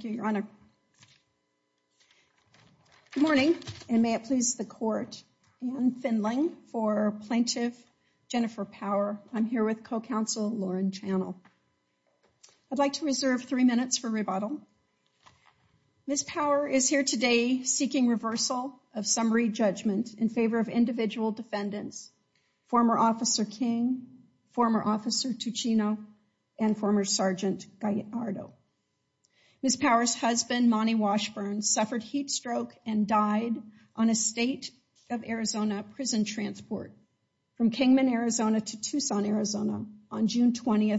Good morning, and may it please the court. Anne Finling for Plaintiff Jennifer Power. I'm here with co-counsel Lauren Channel. I'd like to reserve three minutes for rebuttal. Ms. Power is here today seeking reversal of summary judgment in favor of individual defendants, former officer King, former officer Tuccino, and former sergeant Gallardo. Ms. Power's husband, Monty Washburn, suffered heat stroke and died on a State of Arizona prison transport from Kingman, Arizona to Tucson, Arizona on June 20,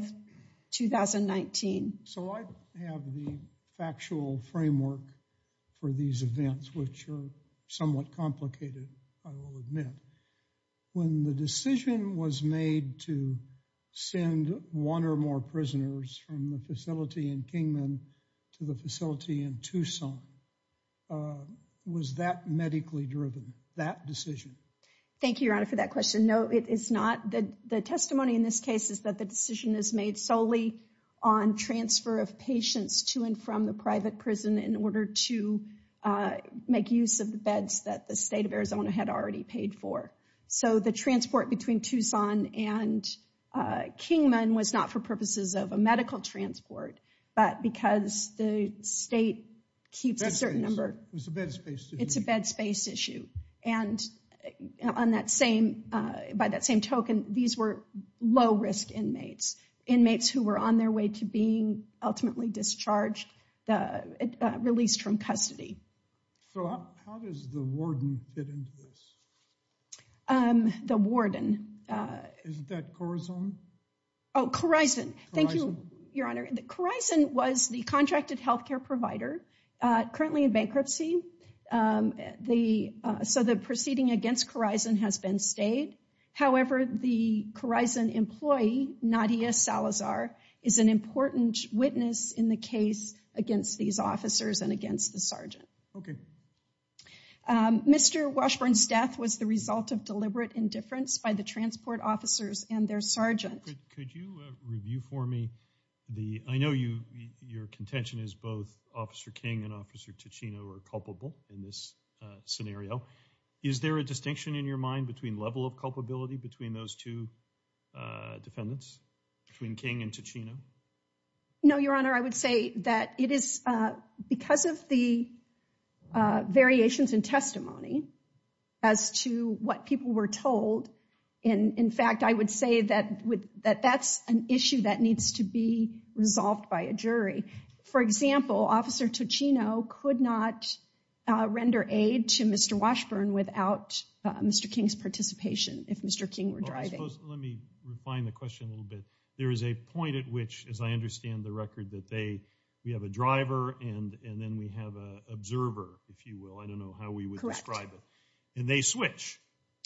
2019. So I have the factual framework for these events, which are somewhat complicated, I will admit. When the decision was made to send one or more prisoners from the facility in Kingman to the facility in Tucson, was that medically driven, that decision? Thank you, Your Honor, for that question. No, it is not. The testimony in this case is that the decision is made solely on transfer of patients to and from the private prison in order to make use of the beds that the State of Arizona had already paid for. So the transport between Tucson and Kingman was not for purposes of a medical transport, but because the state keeps a certain number. It's a bed space issue. And on that same, by that same token, these were low risk inmates, inmates who were on their way to being ultimately discharged, released from custody. So how does the warden fit into this? The warden. Isn't that Corizon? Oh, Corizon. Thank you, Your Honor. Corizon was the contracted health care provider currently in bankruptcy. The so the proceeding against Corizon has been stayed. However, the Corizon employee, Nadia Salazar, is an important witness in the case against these officers and against the sergeant. OK. Mr. Washburn's death was the result of deliberate indifference by the transport officers and their sergeant. Could you review for me the I know you your contention is both Officer King and Officer Ticino are culpable in this scenario. Is there a distinction in your mind between level of culpability between those two defendants, between King and Ticino? No, Your Honor, I would say that it is because of the variations in testimony as to what people were told. And in fact, I would say that with that, that's an issue that needs to be resolved by a jury. For example, Officer Ticino could not render aid to Mr. Washburn without Mr. King's participation. If Mr. King were driving, let me refine the question a little bit. There is a point at which, as I understand the record, that they we have a driver and then we have a observer, if you will. I don't know how we would describe it. And they switch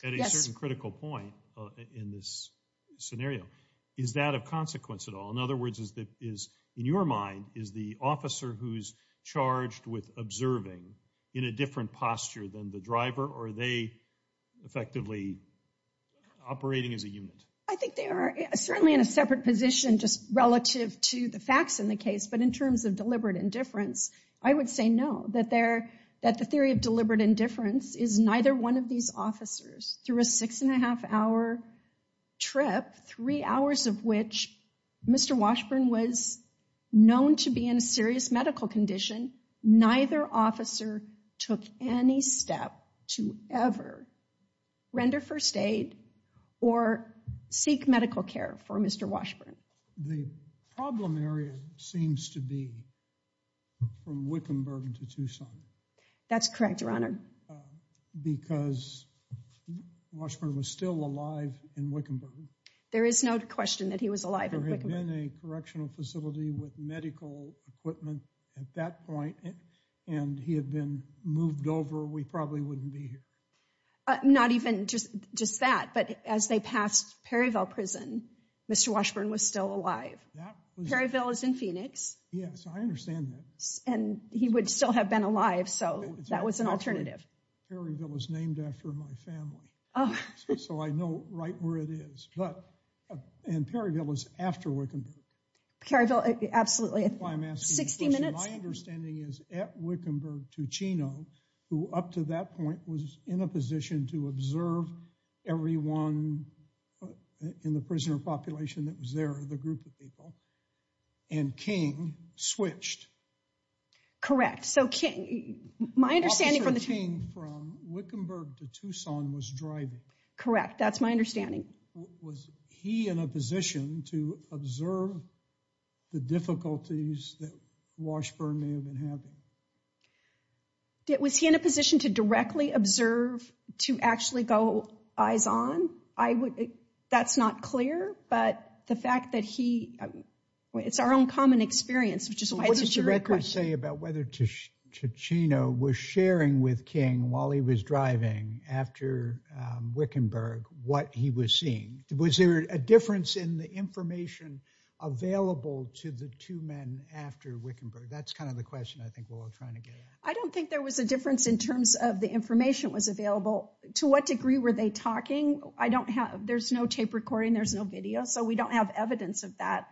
at a certain critical point in this scenario. Is that a consequence at all? In other words, is that is in your mind, is the officer who's charged with observing in a different posture than the driver? Are they effectively operating as a unit? I think they are certainly in a separate position just relative to the facts in the case. But in terms of deliberate indifference, I would say no, that there that the theory of deliberate indifference is neither one of these officers through a six and a half hour trip, three hours of which Mr. Washburn was known to be in a serious medical condition. Neither officer took any step to ever render first aid or seek medical care for Mr. The problem area seems to be from Wickenburg to Tucson. That's correct, Your Honor. Because Washburn was still alive in Wickenburg. There is no question that he was alive. There had been a correctional facility with medical equipment at that point, and he had been moved over. We probably wouldn't be here. Not even just just that, but as they passed Perryville Prison, Mr. Washburn was still alive. Perryville is in Phoenix. Yes, I understand that. And he would still have been alive. So that was an alternative. Perryville was named after my family, so I know right where it is. But in Perryville is after Wickenburg. Perryville. Absolutely. Sixty minutes. My understanding is at Wickenburg to Chino, who up to that point was in a position to observe everyone in the prisoner population that was there, the group of people. And King switched. Correct. So King, my understanding from the team from Wickenburg to Tucson was driving. Correct. That's my understanding. Was he in a position to observe the difficulties that Washburn may have been having? Was he in a position to directly observe, to actually go eyes on? I would. That's not clear. But the fact that he it's our own common experience, which is why it's a very good thing about whether Chino was sharing with King while he was driving after Wickenburg, what he was seeing. Was there a difference in the information available to the two men after Wickenburg? That's kind of the question I think we're all trying to get. I don't think there was a difference in terms of the information was available. To what degree were they talking? I don't have there's no tape recording. There's no video. So we don't have evidence of that.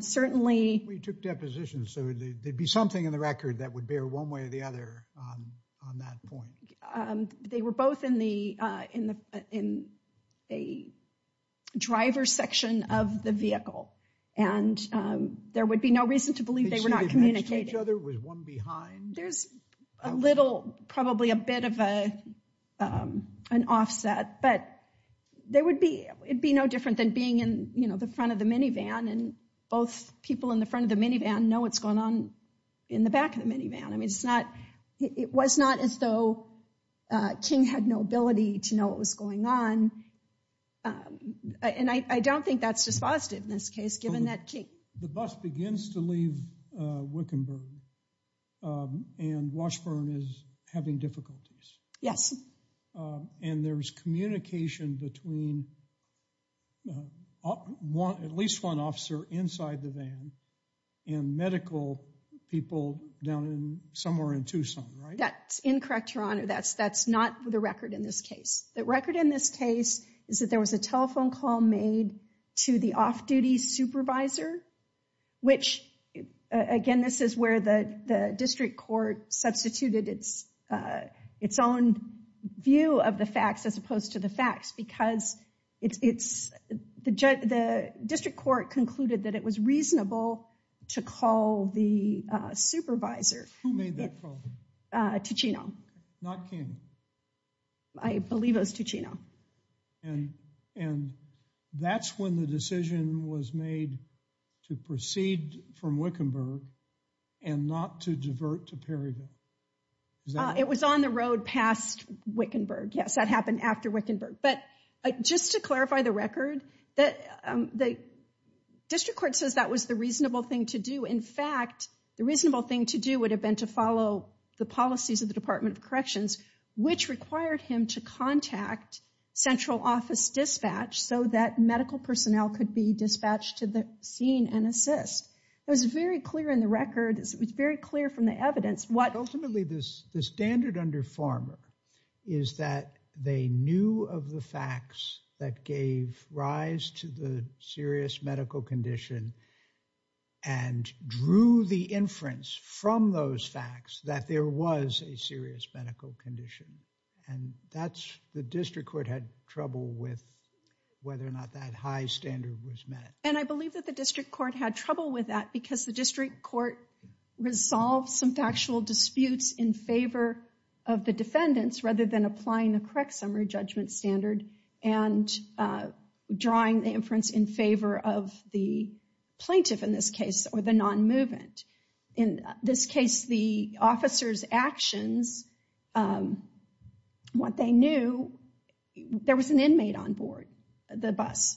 Certainly, we took depositions. So there'd be something in the record that would bear one way or the other on that point. They were both in the in a driver's section of the vehicle, and there would be no reason to believe they were not communicating with one behind. There's a little probably a bit of an offset, but there would be it'd be no different than being in the front of the minivan. And both people in the front of the minivan know what's going on in the back of the minivan. I mean, it's not it was not as though King had no ability to know what was going on. And I don't think that's dispositive in this case, given that the bus begins to leave Wickenburg and Washburn is having difficulties. Yes. And there's communication between at least one officer inside the van and medical people down in somewhere in Tucson, right? That's incorrect, Your Honor. That's that's not the record in this case. The record in this case is that there was a telephone call made to the off-duty supervisor, which again, this is where the district court substituted its own view of the facts as opposed to the facts, because it's the district court concluded that it was reasonable to call the supervisor. Who made that call? Tuccino. Not King. I believe it was Tuccino. And and that's when the decision was made to proceed from Wickenburg and not to divert to Perryville. It was on the road past Wickenburg. Yes, that happened after Wickenburg. But just to clarify the record that the district court says that was the reasonable thing to do. In fact, the reasonable thing to do would have been to follow the policies of the Department of Corrections, which required him to contact central office dispatch so that medical personnel could be dispatched to the scene and assist. It was very clear in the record. It was very clear from the evidence what ultimately this the standard under Farmer is that they knew of the facts that gave rise to the serious medical condition and drew the inference from those facts that there was a serious medical condition. And that's the district court had trouble with whether or not that high standard was met. And I believe that the district court had trouble with that because the district court resolved some factual disputes in favor of the defendants rather than applying the correct summary judgment standard and drawing the inference in favor of the plaintiff in this case or the non-movement. In this case, the officer's actions, what they knew, there was an inmate on board the bus.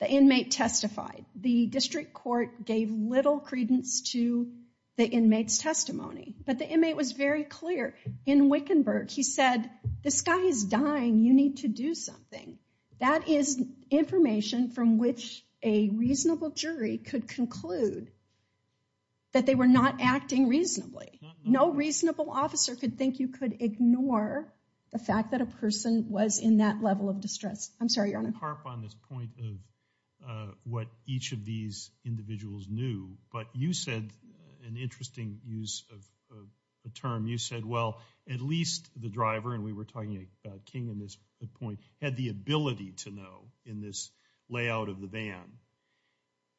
The inmate testified. The district court gave little credence to the inmate's testimony, but the inmate was very clear in Wickenburg. He said, this guy is dying. You need to do something. That is information from which a reasonable jury could conclude that they were not acting reasonably. No reasonable officer could think you could ignore the fact that a person was in that level of distress. I'm sorry, Your Honor. Harp on this point of what each of these individuals knew, but you said an interesting use of a term. You said, well, at least the driver, and we were talking about King in this point, had the ability to know in this layout of the van.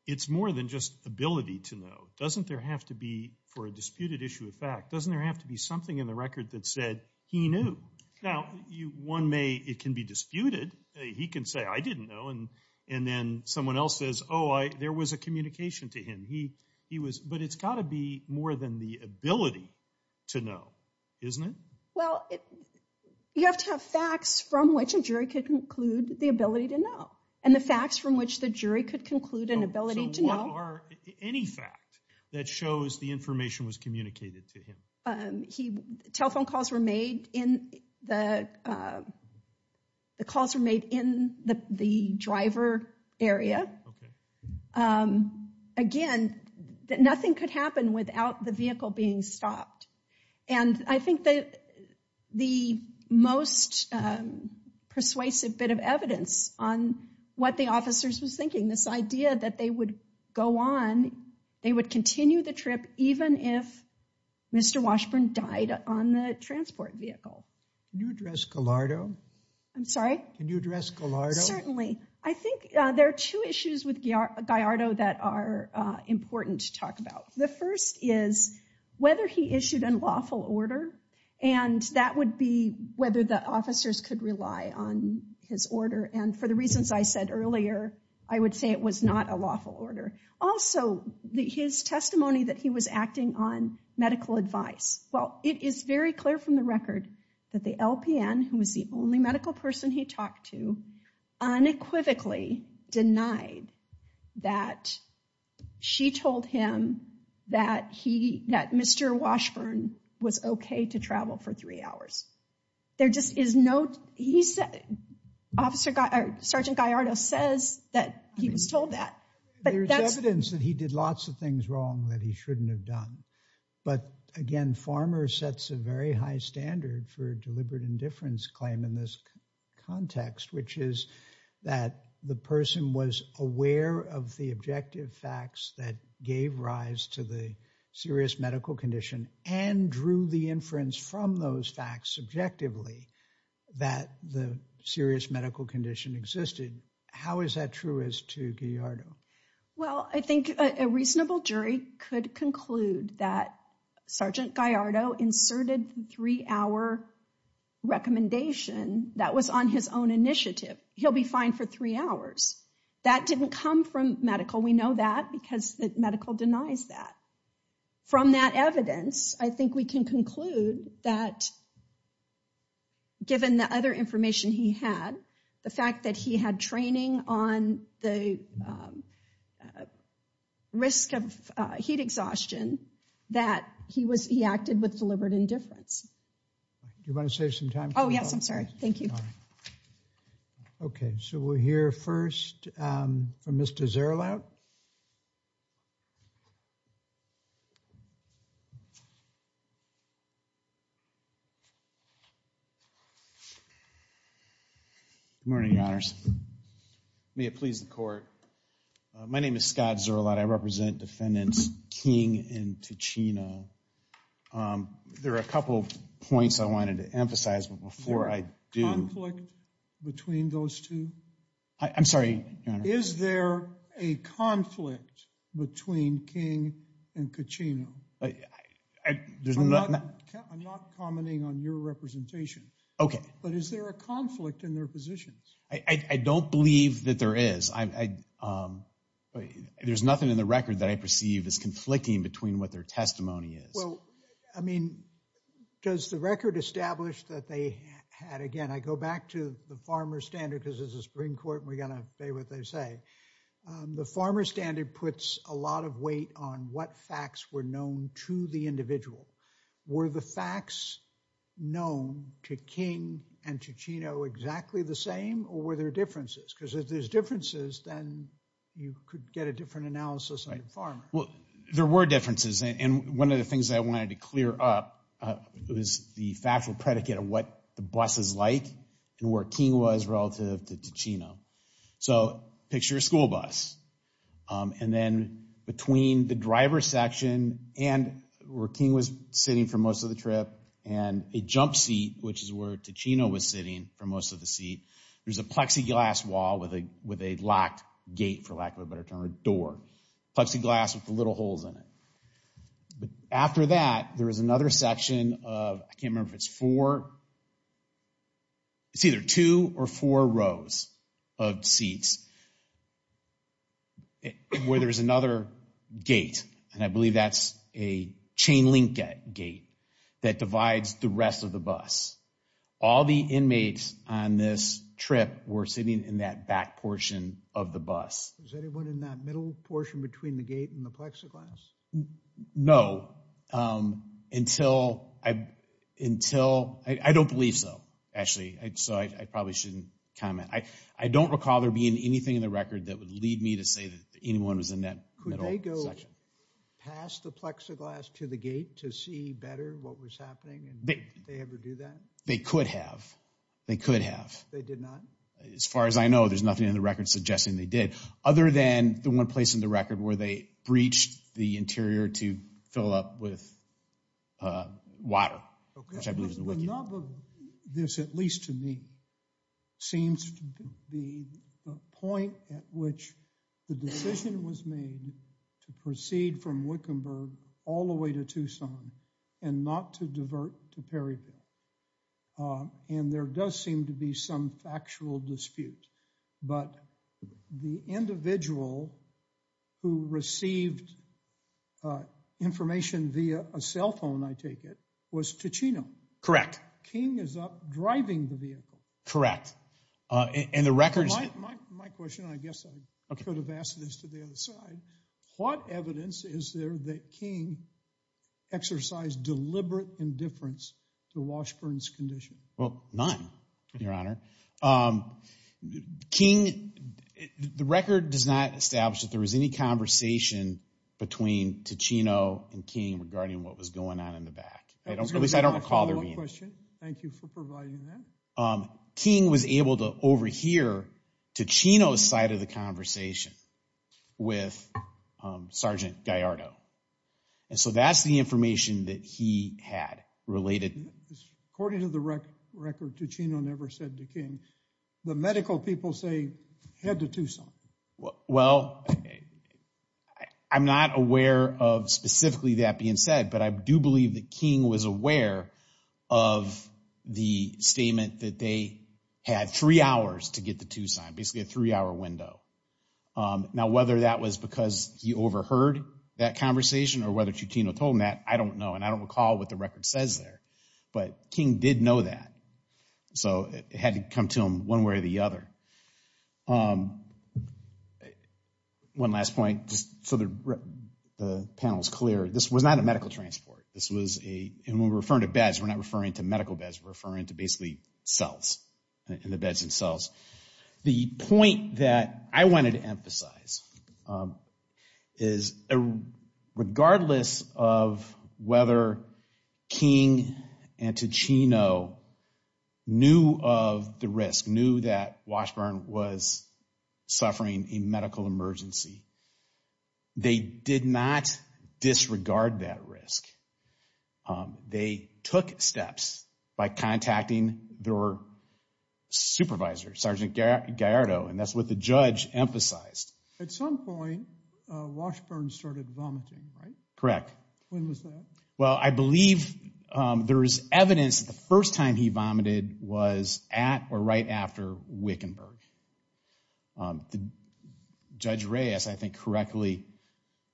It's more than just ability to know. Doesn't there have to be, for a disputed issue of fact, doesn't there have to be something in the record that said he knew? Now, one may, it can be disputed, he can say, I didn't know, and then someone else says, oh, there was a communication to him. He was, but it's got to be more than the ability to know, isn't it? Well, you have to have facts from which a jury could conclude the ability to know, and the facts from which the jury could conclude an ability to know. So what are, any fact that shows the information was communicated to him? He, telephone calls were made in the, the calls were made in the driver area. Again, nothing could happen without the vehicle being stopped, and I think that the most persuasive bit of evidence on what the officers was thinking, this idea that they would go on, they would continue the trip even if Mr. Washburn died on the transport vehicle. Can you address Gallardo? I'm sorry? Can you address Gallardo? Certainly. I think there are two issues with Gallardo that are important to talk about. The first is whether he issued a lawful order, and that would be whether the officers could rely on his order. And for the reasons I said earlier, I would say it was not a lawful order. Also, his testimony that he was acting on medical advice. Well, it is very clear from the record that the LPN, who was the only medical person he talked to, unequivocally denied that she told him that he, that Mr. Washburn was okay to travel for three hours. There just is no, he said, Sergeant Gallardo says that he was told that. There's evidence that he did lots of things wrong that he shouldn't have done. But again, Farmer sets a very high standard for deliberate indifference claim in this context, which is that the person was aware of the objective facts that gave rise to the serious medical condition and drew the inference from those facts subjectively that the serious medical condition existed. How is that true as to Gallardo? Well, I think a reasonable jury could conclude that Sergeant Gallardo inserted three hour recommendation that was on his own initiative. He'll be fine for three hours. That didn't come from medical. We know that because the medical denies that. From that evidence, I think we can conclude that given the other information he had, the fact that he had training on the risk of heat exhaustion, that he was, he acted with deliberate indifference. Do you want to save some time? Oh, yes, I'm sorry. Thank you. Okay, so we'll hear first from Mr. Zerlout. Good morning, Your Honors. May it please the court. My name is Scott Zerlout. I represent defendants King and Ticino. There are a couple of points I wanted to emphasize before I do. Is there a conflict between those two? I'm sorry, Your Honor. Is there a conflict between King and Ticino? I'm not commenting on your representation, but is there a conflict in their positions? I don't believe that there is. There's nothing in the record that I perceive as conflicting between what their testimony is. Well, I mean, does the record establish that they had, again, I go back to the farmer standard because this is a Supreme Court. We got to say what they say. The farmer standard puts a lot of weight on what facts were known to the individual. Were the facts known to King and Ticino exactly the same or were there differences? Because if there's differences, then you could get a different analysis on the farmer. Well, there were differences and one of the things I wanted to clear up was the factual predicate of what the bus is like and where King was relative to Ticino. So picture a school bus and then between the driver's section and where King was sitting for most of the trip and a jump seat, which is where Ticino was sitting for most of the seat, there's a plexiglass wall with a locked gate, for lack of a better term, a door. Plexiglass with the little holes in it. But after that, there is another section of, I can't remember if it's four, it's either two or four rows of seats where there's another gate and I believe that's a chain link gate that divides the rest of the bus. All the inmates on this trip were sitting in that back portion of the bus. Was anyone in that middle portion between the gate and the plexiglass? No, until, I don't believe so, actually, so I probably shouldn't comment. I don't recall there being anything in the record that would lead me to say that anyone was in that middle section. Could they go past the plexiglass to the gate to see better what was happening? They could have. They could have. They did not? As far as I know, there's nothing in the record suggesting they did, other than the one place in the record where they breached the interior to fill up with water, which I believe is the WICU. The nub of this, at least to me, seems to be the point at which the decision was made to proceed from Wickenburg all the way to Tucson and not to divert to Perryville. And there does seem to be some factual dispute. But the individual who received information via a cell phone, I take it, was Ticino. Correct. King is up driving the vehicle. Correct. And the record's... My question, and I guess I could have asked this to the other side, what evidence is there that King exercised deliberate indifference to Washburn's condition? Well, none, Your Honor. King... The record does not establish that there was any conversation between Ticino and King regarding what was going on in the back. At least I don't recall there being. Thank you for providing that. King was able to overhear Ticino's side of the conversation with Sergeant Gallardo. And so that's the information that he had related. According to the record, Ticino never said to King, the medical people say, head to Tucson. Well, I'm not aware of specifically that being said, but I do believe that King was aware of the statement that they had three hours to get to Tucson, basically a three-hour window. Now, whether that was because he overheard that conversation or whether Ticino told him that, I don't know. And I don't recall what the record says there. But King did know that. So it had to come to him one way or the other. One last point, just so the panel is clear. This was not a medical transport. This was a... And when we're referring to beds, we're not referring to medical beds. We're referring to basically cells, in the beds themselves. The point that I wanted to emphasize is, regardless of whether King and Ticino knew of the risk, knew that Washburn was suffering a medical emergency, they did not disregard that risk. They took steps by contacting their supervisor, Sergeant Gallardo. And that's what the judge emphasized. At some point, Washburn started vomiting, right? Correct. When was that? Well, I believe there is evidence the first time he vomited was at or right after Wickenburg. The Judge Reyes, I think, correctly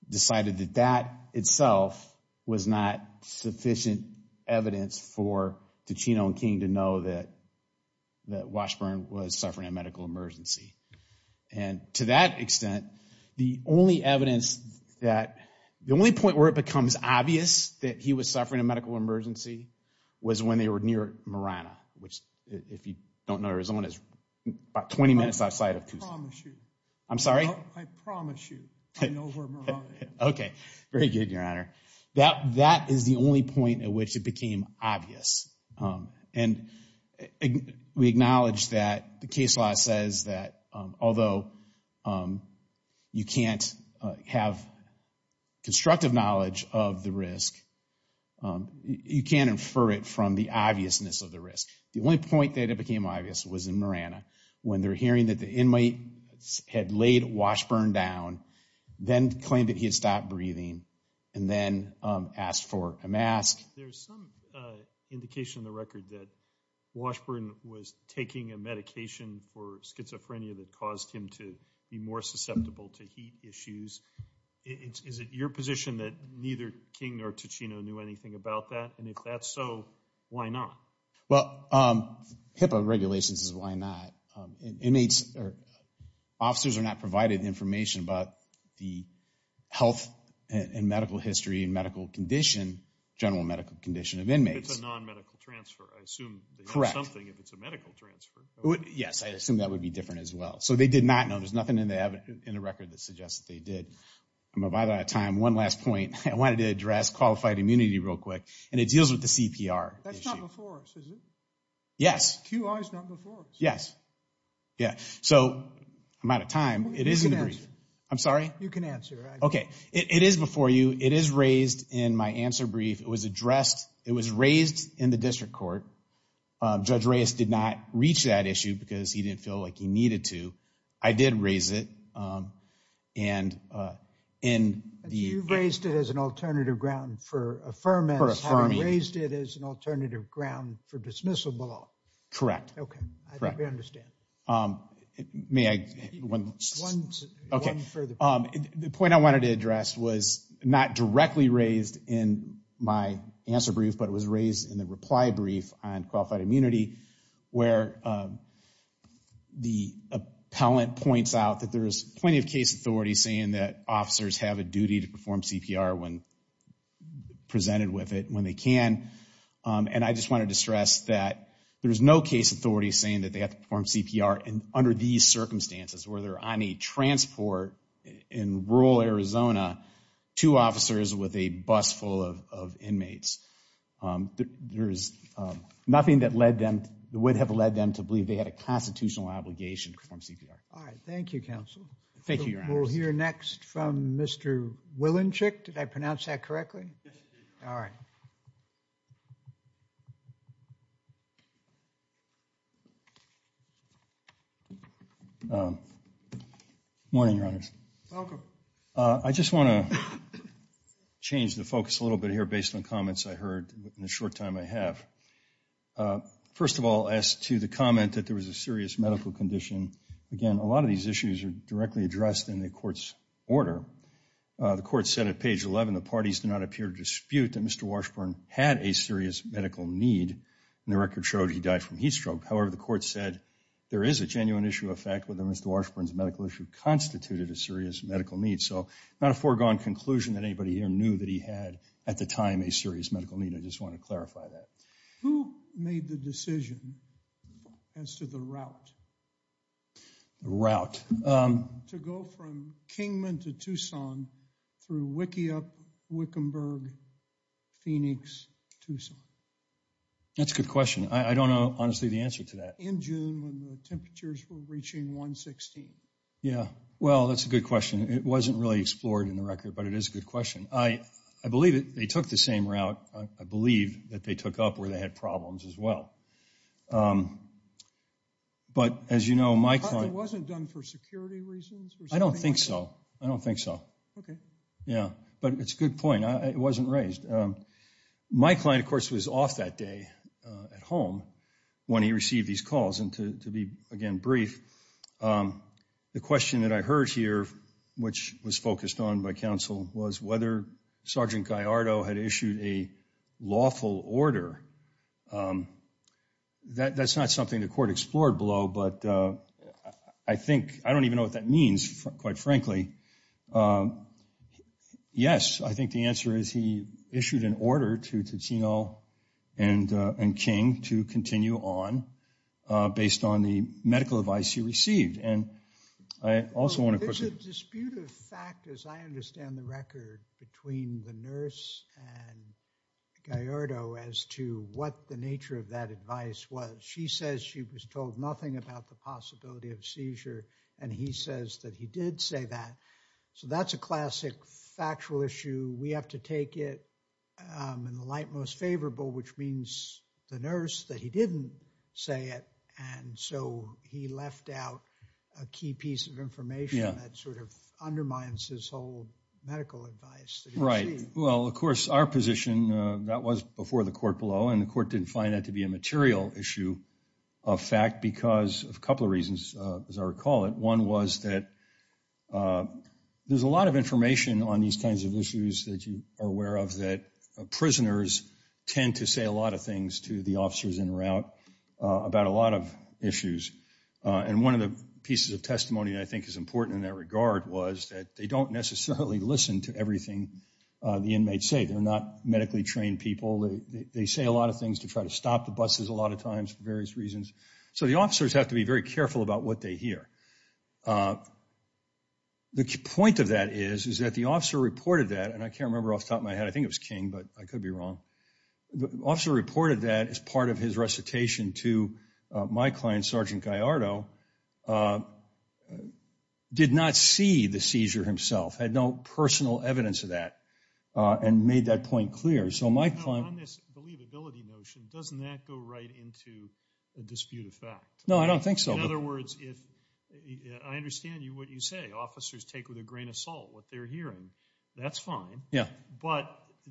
decided that that itself was not sufficient evidence for Ticino and King to know that Washburn was suffering a medical emergency. And to that extent, the only evidence that... The only point where it becomes obvious that he was suffering a medical emergency was when they were near Marana. Which, if you don't know Arizona, is about 20 minutes outside of Tucson. I promise you. I'm sorry? I promise you. I know where Marana is. Okay. Very good, Your Honor. That is the only point at which it became obvious. And we acknowledge that the case law says that although you can't have constructive knowledge of the risk, you can't infer it from the obviousness of the risk. The only point that it became obvious was in Marana, when they're hearing that the inmates had laid Washburn down, then claimed that he had stopped breathing, and then asked for a mask. There's some indication in the record that Washburn was taking a medication for schizophrenia that caused him to be more susceptible to heat issues. Is it your position that neither King nor Ticino knew anything about that? And if that's so, why not? Well, HIPAA regulations is why not. Officers are not provided information about the health and medical history and medical condition, general medical condition of inmates. If it's a non-medical transfer, I assume they know something if it's a medical transfer. Yes, I assume that would be different as well. So they did not know. There's nothing in the record that suggests that they did. I'm out of time. One last point. I wanted to address qualified immunity real quick. And it deals with the CPR issue. That's not before us, is it? Yes. QI is not before us. Yes. Yeah. So I'm out of time. It is in the brief. I'm sorry? You can answer. Okay. It is before you. It is raised in my answer brief. It was addressed. It was raised in the district court. Judge Reyes did not reach that issue because he didn't feel like he needed to. I did raise it. And in the- You've raised it as an alternative ground for affirmance- For affirming. Raised it as an alternative ground for dismissal below. Correct. Okay. Correct. I think we understand. May I? Okay. The point I wanted to address was not directly raised in my answer brief, but it was raised in the reply brief on qualified immunity where the appellant points out that there is plenty of case authorities saying that officers have a duty to perform CPR when presented with it, when they can. And I just wanted to stress that there is no case authority saying that they have to transport in rural Arizona two officers with a bus full of inmates. There is nothing that would have led them to believe they had a constitutional obligation to perform CPR. All right. Thank you, counsel. Thank you, your honor. We'll hear next from Mr. Willinchick. Did I pronounce that correctly? Yes, you did. All right. Morning, your honors. Welcome. I just want to change the focus a little bit here based on comments I heard in the short time I have. First of all, as to the comment that there was a serious medical condition, again, a lot of these issues are directly addressed in the court's order. The court said at page 11, the parties do not appear to dispute that Mr. Washburn had a serious medical need and the record showed he died from heat stroke. However, the court said there is a genuine issue of fact whether Mr. Washburn's medical issue constituted a serious medical need. So not a foregone conclusion that anybody here knew that he had, at the time, a serious medical need. I just want to clarify that. Who made the decision as to the route? The route? To go from Kingman to Tucson through Wickiup, Wickenburg, Phoenix, Tucson. That's a good question. I don't know, honestly, the answer to that. In June, when the temperatures were reaching 116. Yeah. Well, that's a good question. It wasn't really explored in the record, but it is a good question. I believe that they took the same route. I believe that they took up where they had problems as well. But as you know, my client... It wasn't done for security reasons? I don't think so. I don't think so. Okay. Yeah. But it's a good point. It wasn't raised. My client, of course, was off that day at home when he received these calls. And to be, again, brief, the question that I heard here, which was focused on by counsel, was whether Sergeant Gallardo had issued a lawful order. That's not something the court explored below, but I don't even know what that means, quite frankly. Yes, I think the answer is he issued an order to Ticino and King to continue on based on the medical advice he received. And I also want to... There's a dispute of fact, as I understand the record, between the nurse and Gallardo as to what the nature of that advice was. She says she was told nothing about the possibility of seizure, and he says that he did say that, so that's a classic factual issue. We have to take it in the light most favorable, which means the nurse, that he didn't say it, and so he left out a key piece of information that sort of undermines his whole medical advice that he received. Right. Well, of course, our position, that was before the court below, and the court didn't find that to be a material issue of fact because of a couple of reasons, as I recall it. One was that there's a lot of information on these kinds of issues that you are aware of that prisoners tend to say a lot of things to the officers in route about a lot of issues. And one of the pieces of testimony that I think is important in that regard was that they don't necessarily listen to everything the inmates say. They're not medically trained people. They say a lot of things to try to stop the buses a lot of times for various reasons. So the officers have to be very careful about what they hear. The point of that is, is that the officer reported that, and I can't remember off the top of my head, I think it was King, but I could be wrong, the officer reported that as part of his recitation to my client, Sergeant Gallardo, did not see the seizure himself, had no personal evidence of that, and made that point clear. So my client- On this believability notion, doesn't that go right into a dispute of fact? No, I don't think so. In other words, I understand what you say. Officers take with a grain of salt what they're hearing. That's fine. But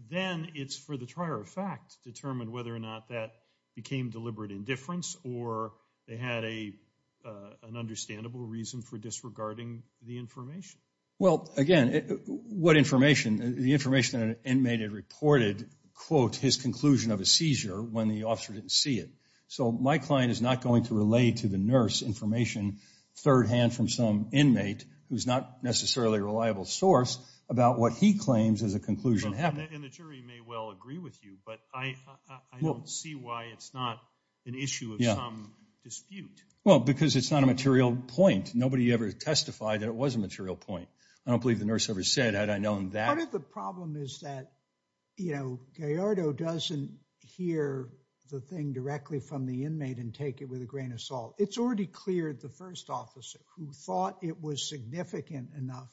then it's for the trier of fact to determine whether or not that became deliberate indifference or they had an understandable reason for disregarding the information. Well, again, what information? The information an inmate had reported, quote, his conclusion of a seizure when the officer didn't see it. So my client is not going to relay to the nurse information thirdhand from some inmate who's not necessarily a reliable source about what he claims as a conclusion happened. And the jury may well agree with you, but I don't see why it's not an issue of some dispute. Well, because it's not a material point. Nobody ever testified that it was a material point. I don't believe the nurse ever said, had I known that- Part of the problem is that, you know, Gallardo doesn't hear the thing directly from the inmate and take it with a grain of salt. It's already cleared the first officer who thought it was significant enough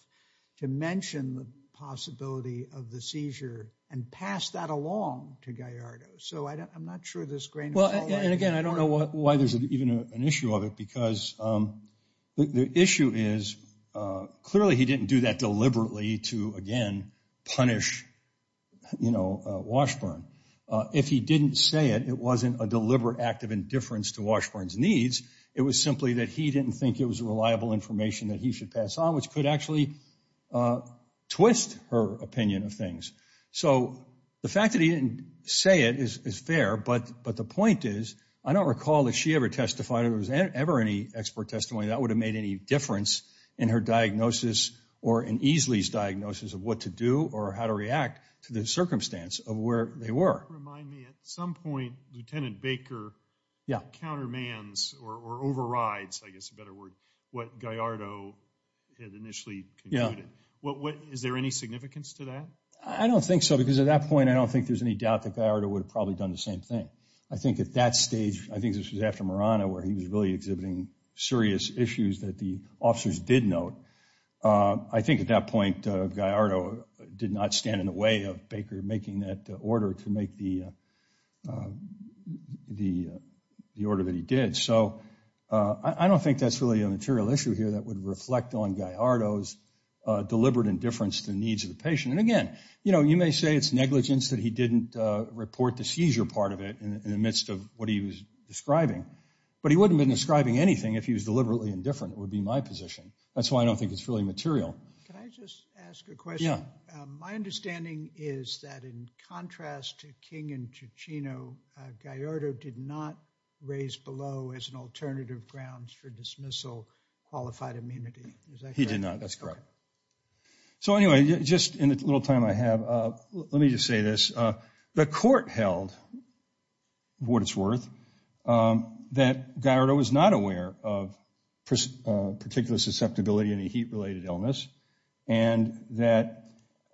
to mention the possibility of the seizure and pass that along to Gallardo. So I'm not sure this grain of salt- Well, and again, I don't know why there's even an issue of it because the issue is clearly he didn't do that deliberately to, again, punish, you know, Washburn. If he didn't say it, it wasn't a deliberate act of indifference to Washburn's needs. It was simply that he didn't think it was reliable information that he should pass on, which could actually twist her opinion of things. So the fact that he didn't say it is fair, but the point is, I don't recall that she ever testified or there was ever any expert testimony that would have made any difference in her diagnosis or in Eesley's diagnosis of what to do or how to react to the circumstance of where they were. Remind me, at some point, Lieutenant Baker countermands or overrides, I guess is a better word, what Gallardo had initially concluded. Yeah. Is there any significance to that? I don't think so, because at that point, I don't think there's any doubt that Gallardo would have probably done the same thing. I think at that stage, I think this was after Murano, where he was really exhibiting serious issues that the officers did note. I think at that point, Gallardo did not stand in the way of Baker making that order to make the order that he did. So I don't think that's really a material issue here that would reflect on Gallardo's deliberate indifference to the needs of the patient. And again, you know, you may say it's negligence that he didn't report the seizure part of it in the midst of what he was describing, but he wouldn't have been describing anything if he was deliberately indifferent. It would be my position. That's why I don't think it's really material. Can I just ask a question? Yeah. My understanding is that in contrast to King and Ciccino, Gallardo did not raise below as an alternative grounds for dismissal qualified immunity. Is that correct? He did not. That's correct. So anyway, just in the little time I have, let me just say this. The court held, for what it's worth, that Gallardo was not aware of particular susceptibility in a heat-related illness and that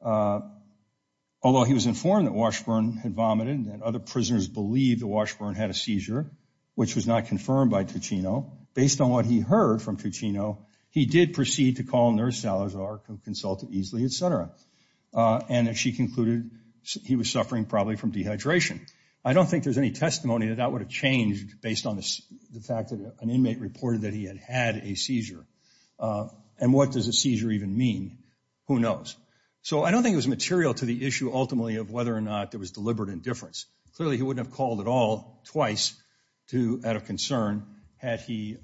although he was informed that Washburn had vomited and other prisoners believed that Washburn had a seizure, which was not confirmed by Ciccino, based on what he heard from Ciccino, he did proceed to call Nurse Salazar, who consulted easily, et cetera. And she concluded he was suffering probably from dehydration. I don't think there's any testimony that that would have changed based on the fact that an inmate reported that he had had a seizure. And what does a seizure even mean? Who knows? So I don't think it was material to the issue, ultimately, of whether or not there was deliberate indifference. Clearly, he wouldn't have called at all twice out of concern had he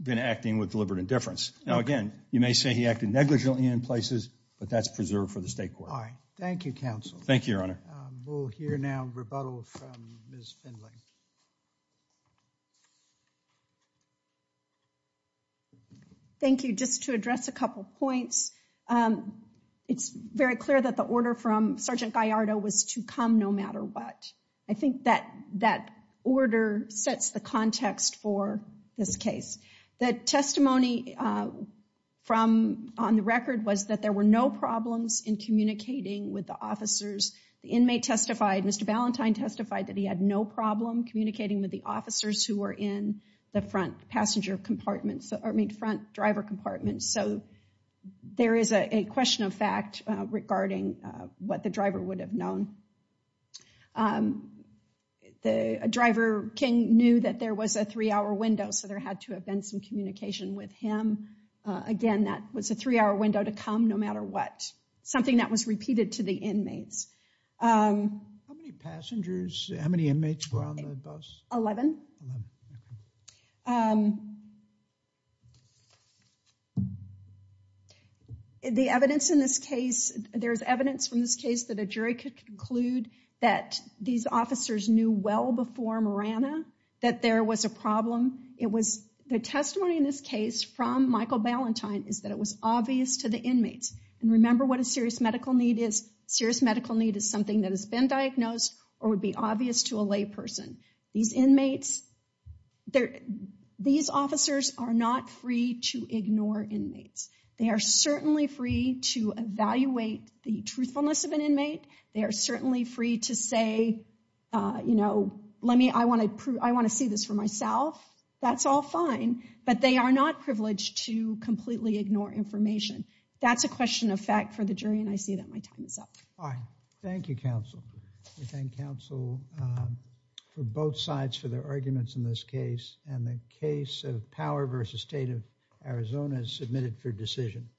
been acting with deliberate indifference. Now, again, you may say he acted negligently in places, but that's preserved for the State Court. All right. Thank you, counsel. Thank you, Your Honor. We'll hear now rebuttal from Ms. Findlay. Thank you. Just to address a couple points, it's very clear that the order from Sergeant Gallardo was to come no matter what. I think that that order sets the context for this case. The testimony on the record was that there were no problems in communicating with the officers. The inmate testified, Mr. Ballantyne testified, that he had no problem communicating with the officers who were in the front passenger compartments, I mean, front driver compartments. So there is a question of fact regarding what the driver would have known. The driver, King, knew that there was a three-hour window, so there had to have been some communication with him. Again, that was a three-hour window to come no matter what, something that was repeated to the inmates. How many passengers, how many inmates were on the bus? Eleven. The evidence in this case, there's evidence from this case that a jury could conclude that these officers knew well before Marana that there was a problem. It was the testimony in this case from Michael Ballantyne is that it was obvious to the inmates. And remember what a serious medical need is. Serious medical need is something that has been diagnosed or would be obvious to a lay person. These inmates, these officers are not free to ignore inmates. They are certainly free to evaluate the truthfulness of an inmate. They are certainly free to say, you know, let me, I want to see this for myself. That's all fine. But they are not privileged to completely ignore information. That's a question of fact for the jury, and I see that my time is up. All right. Thank you, counsel. We thank counsel for both sides for their arguments in this case. And the case of Power v. State of Arizona is submitted for decision.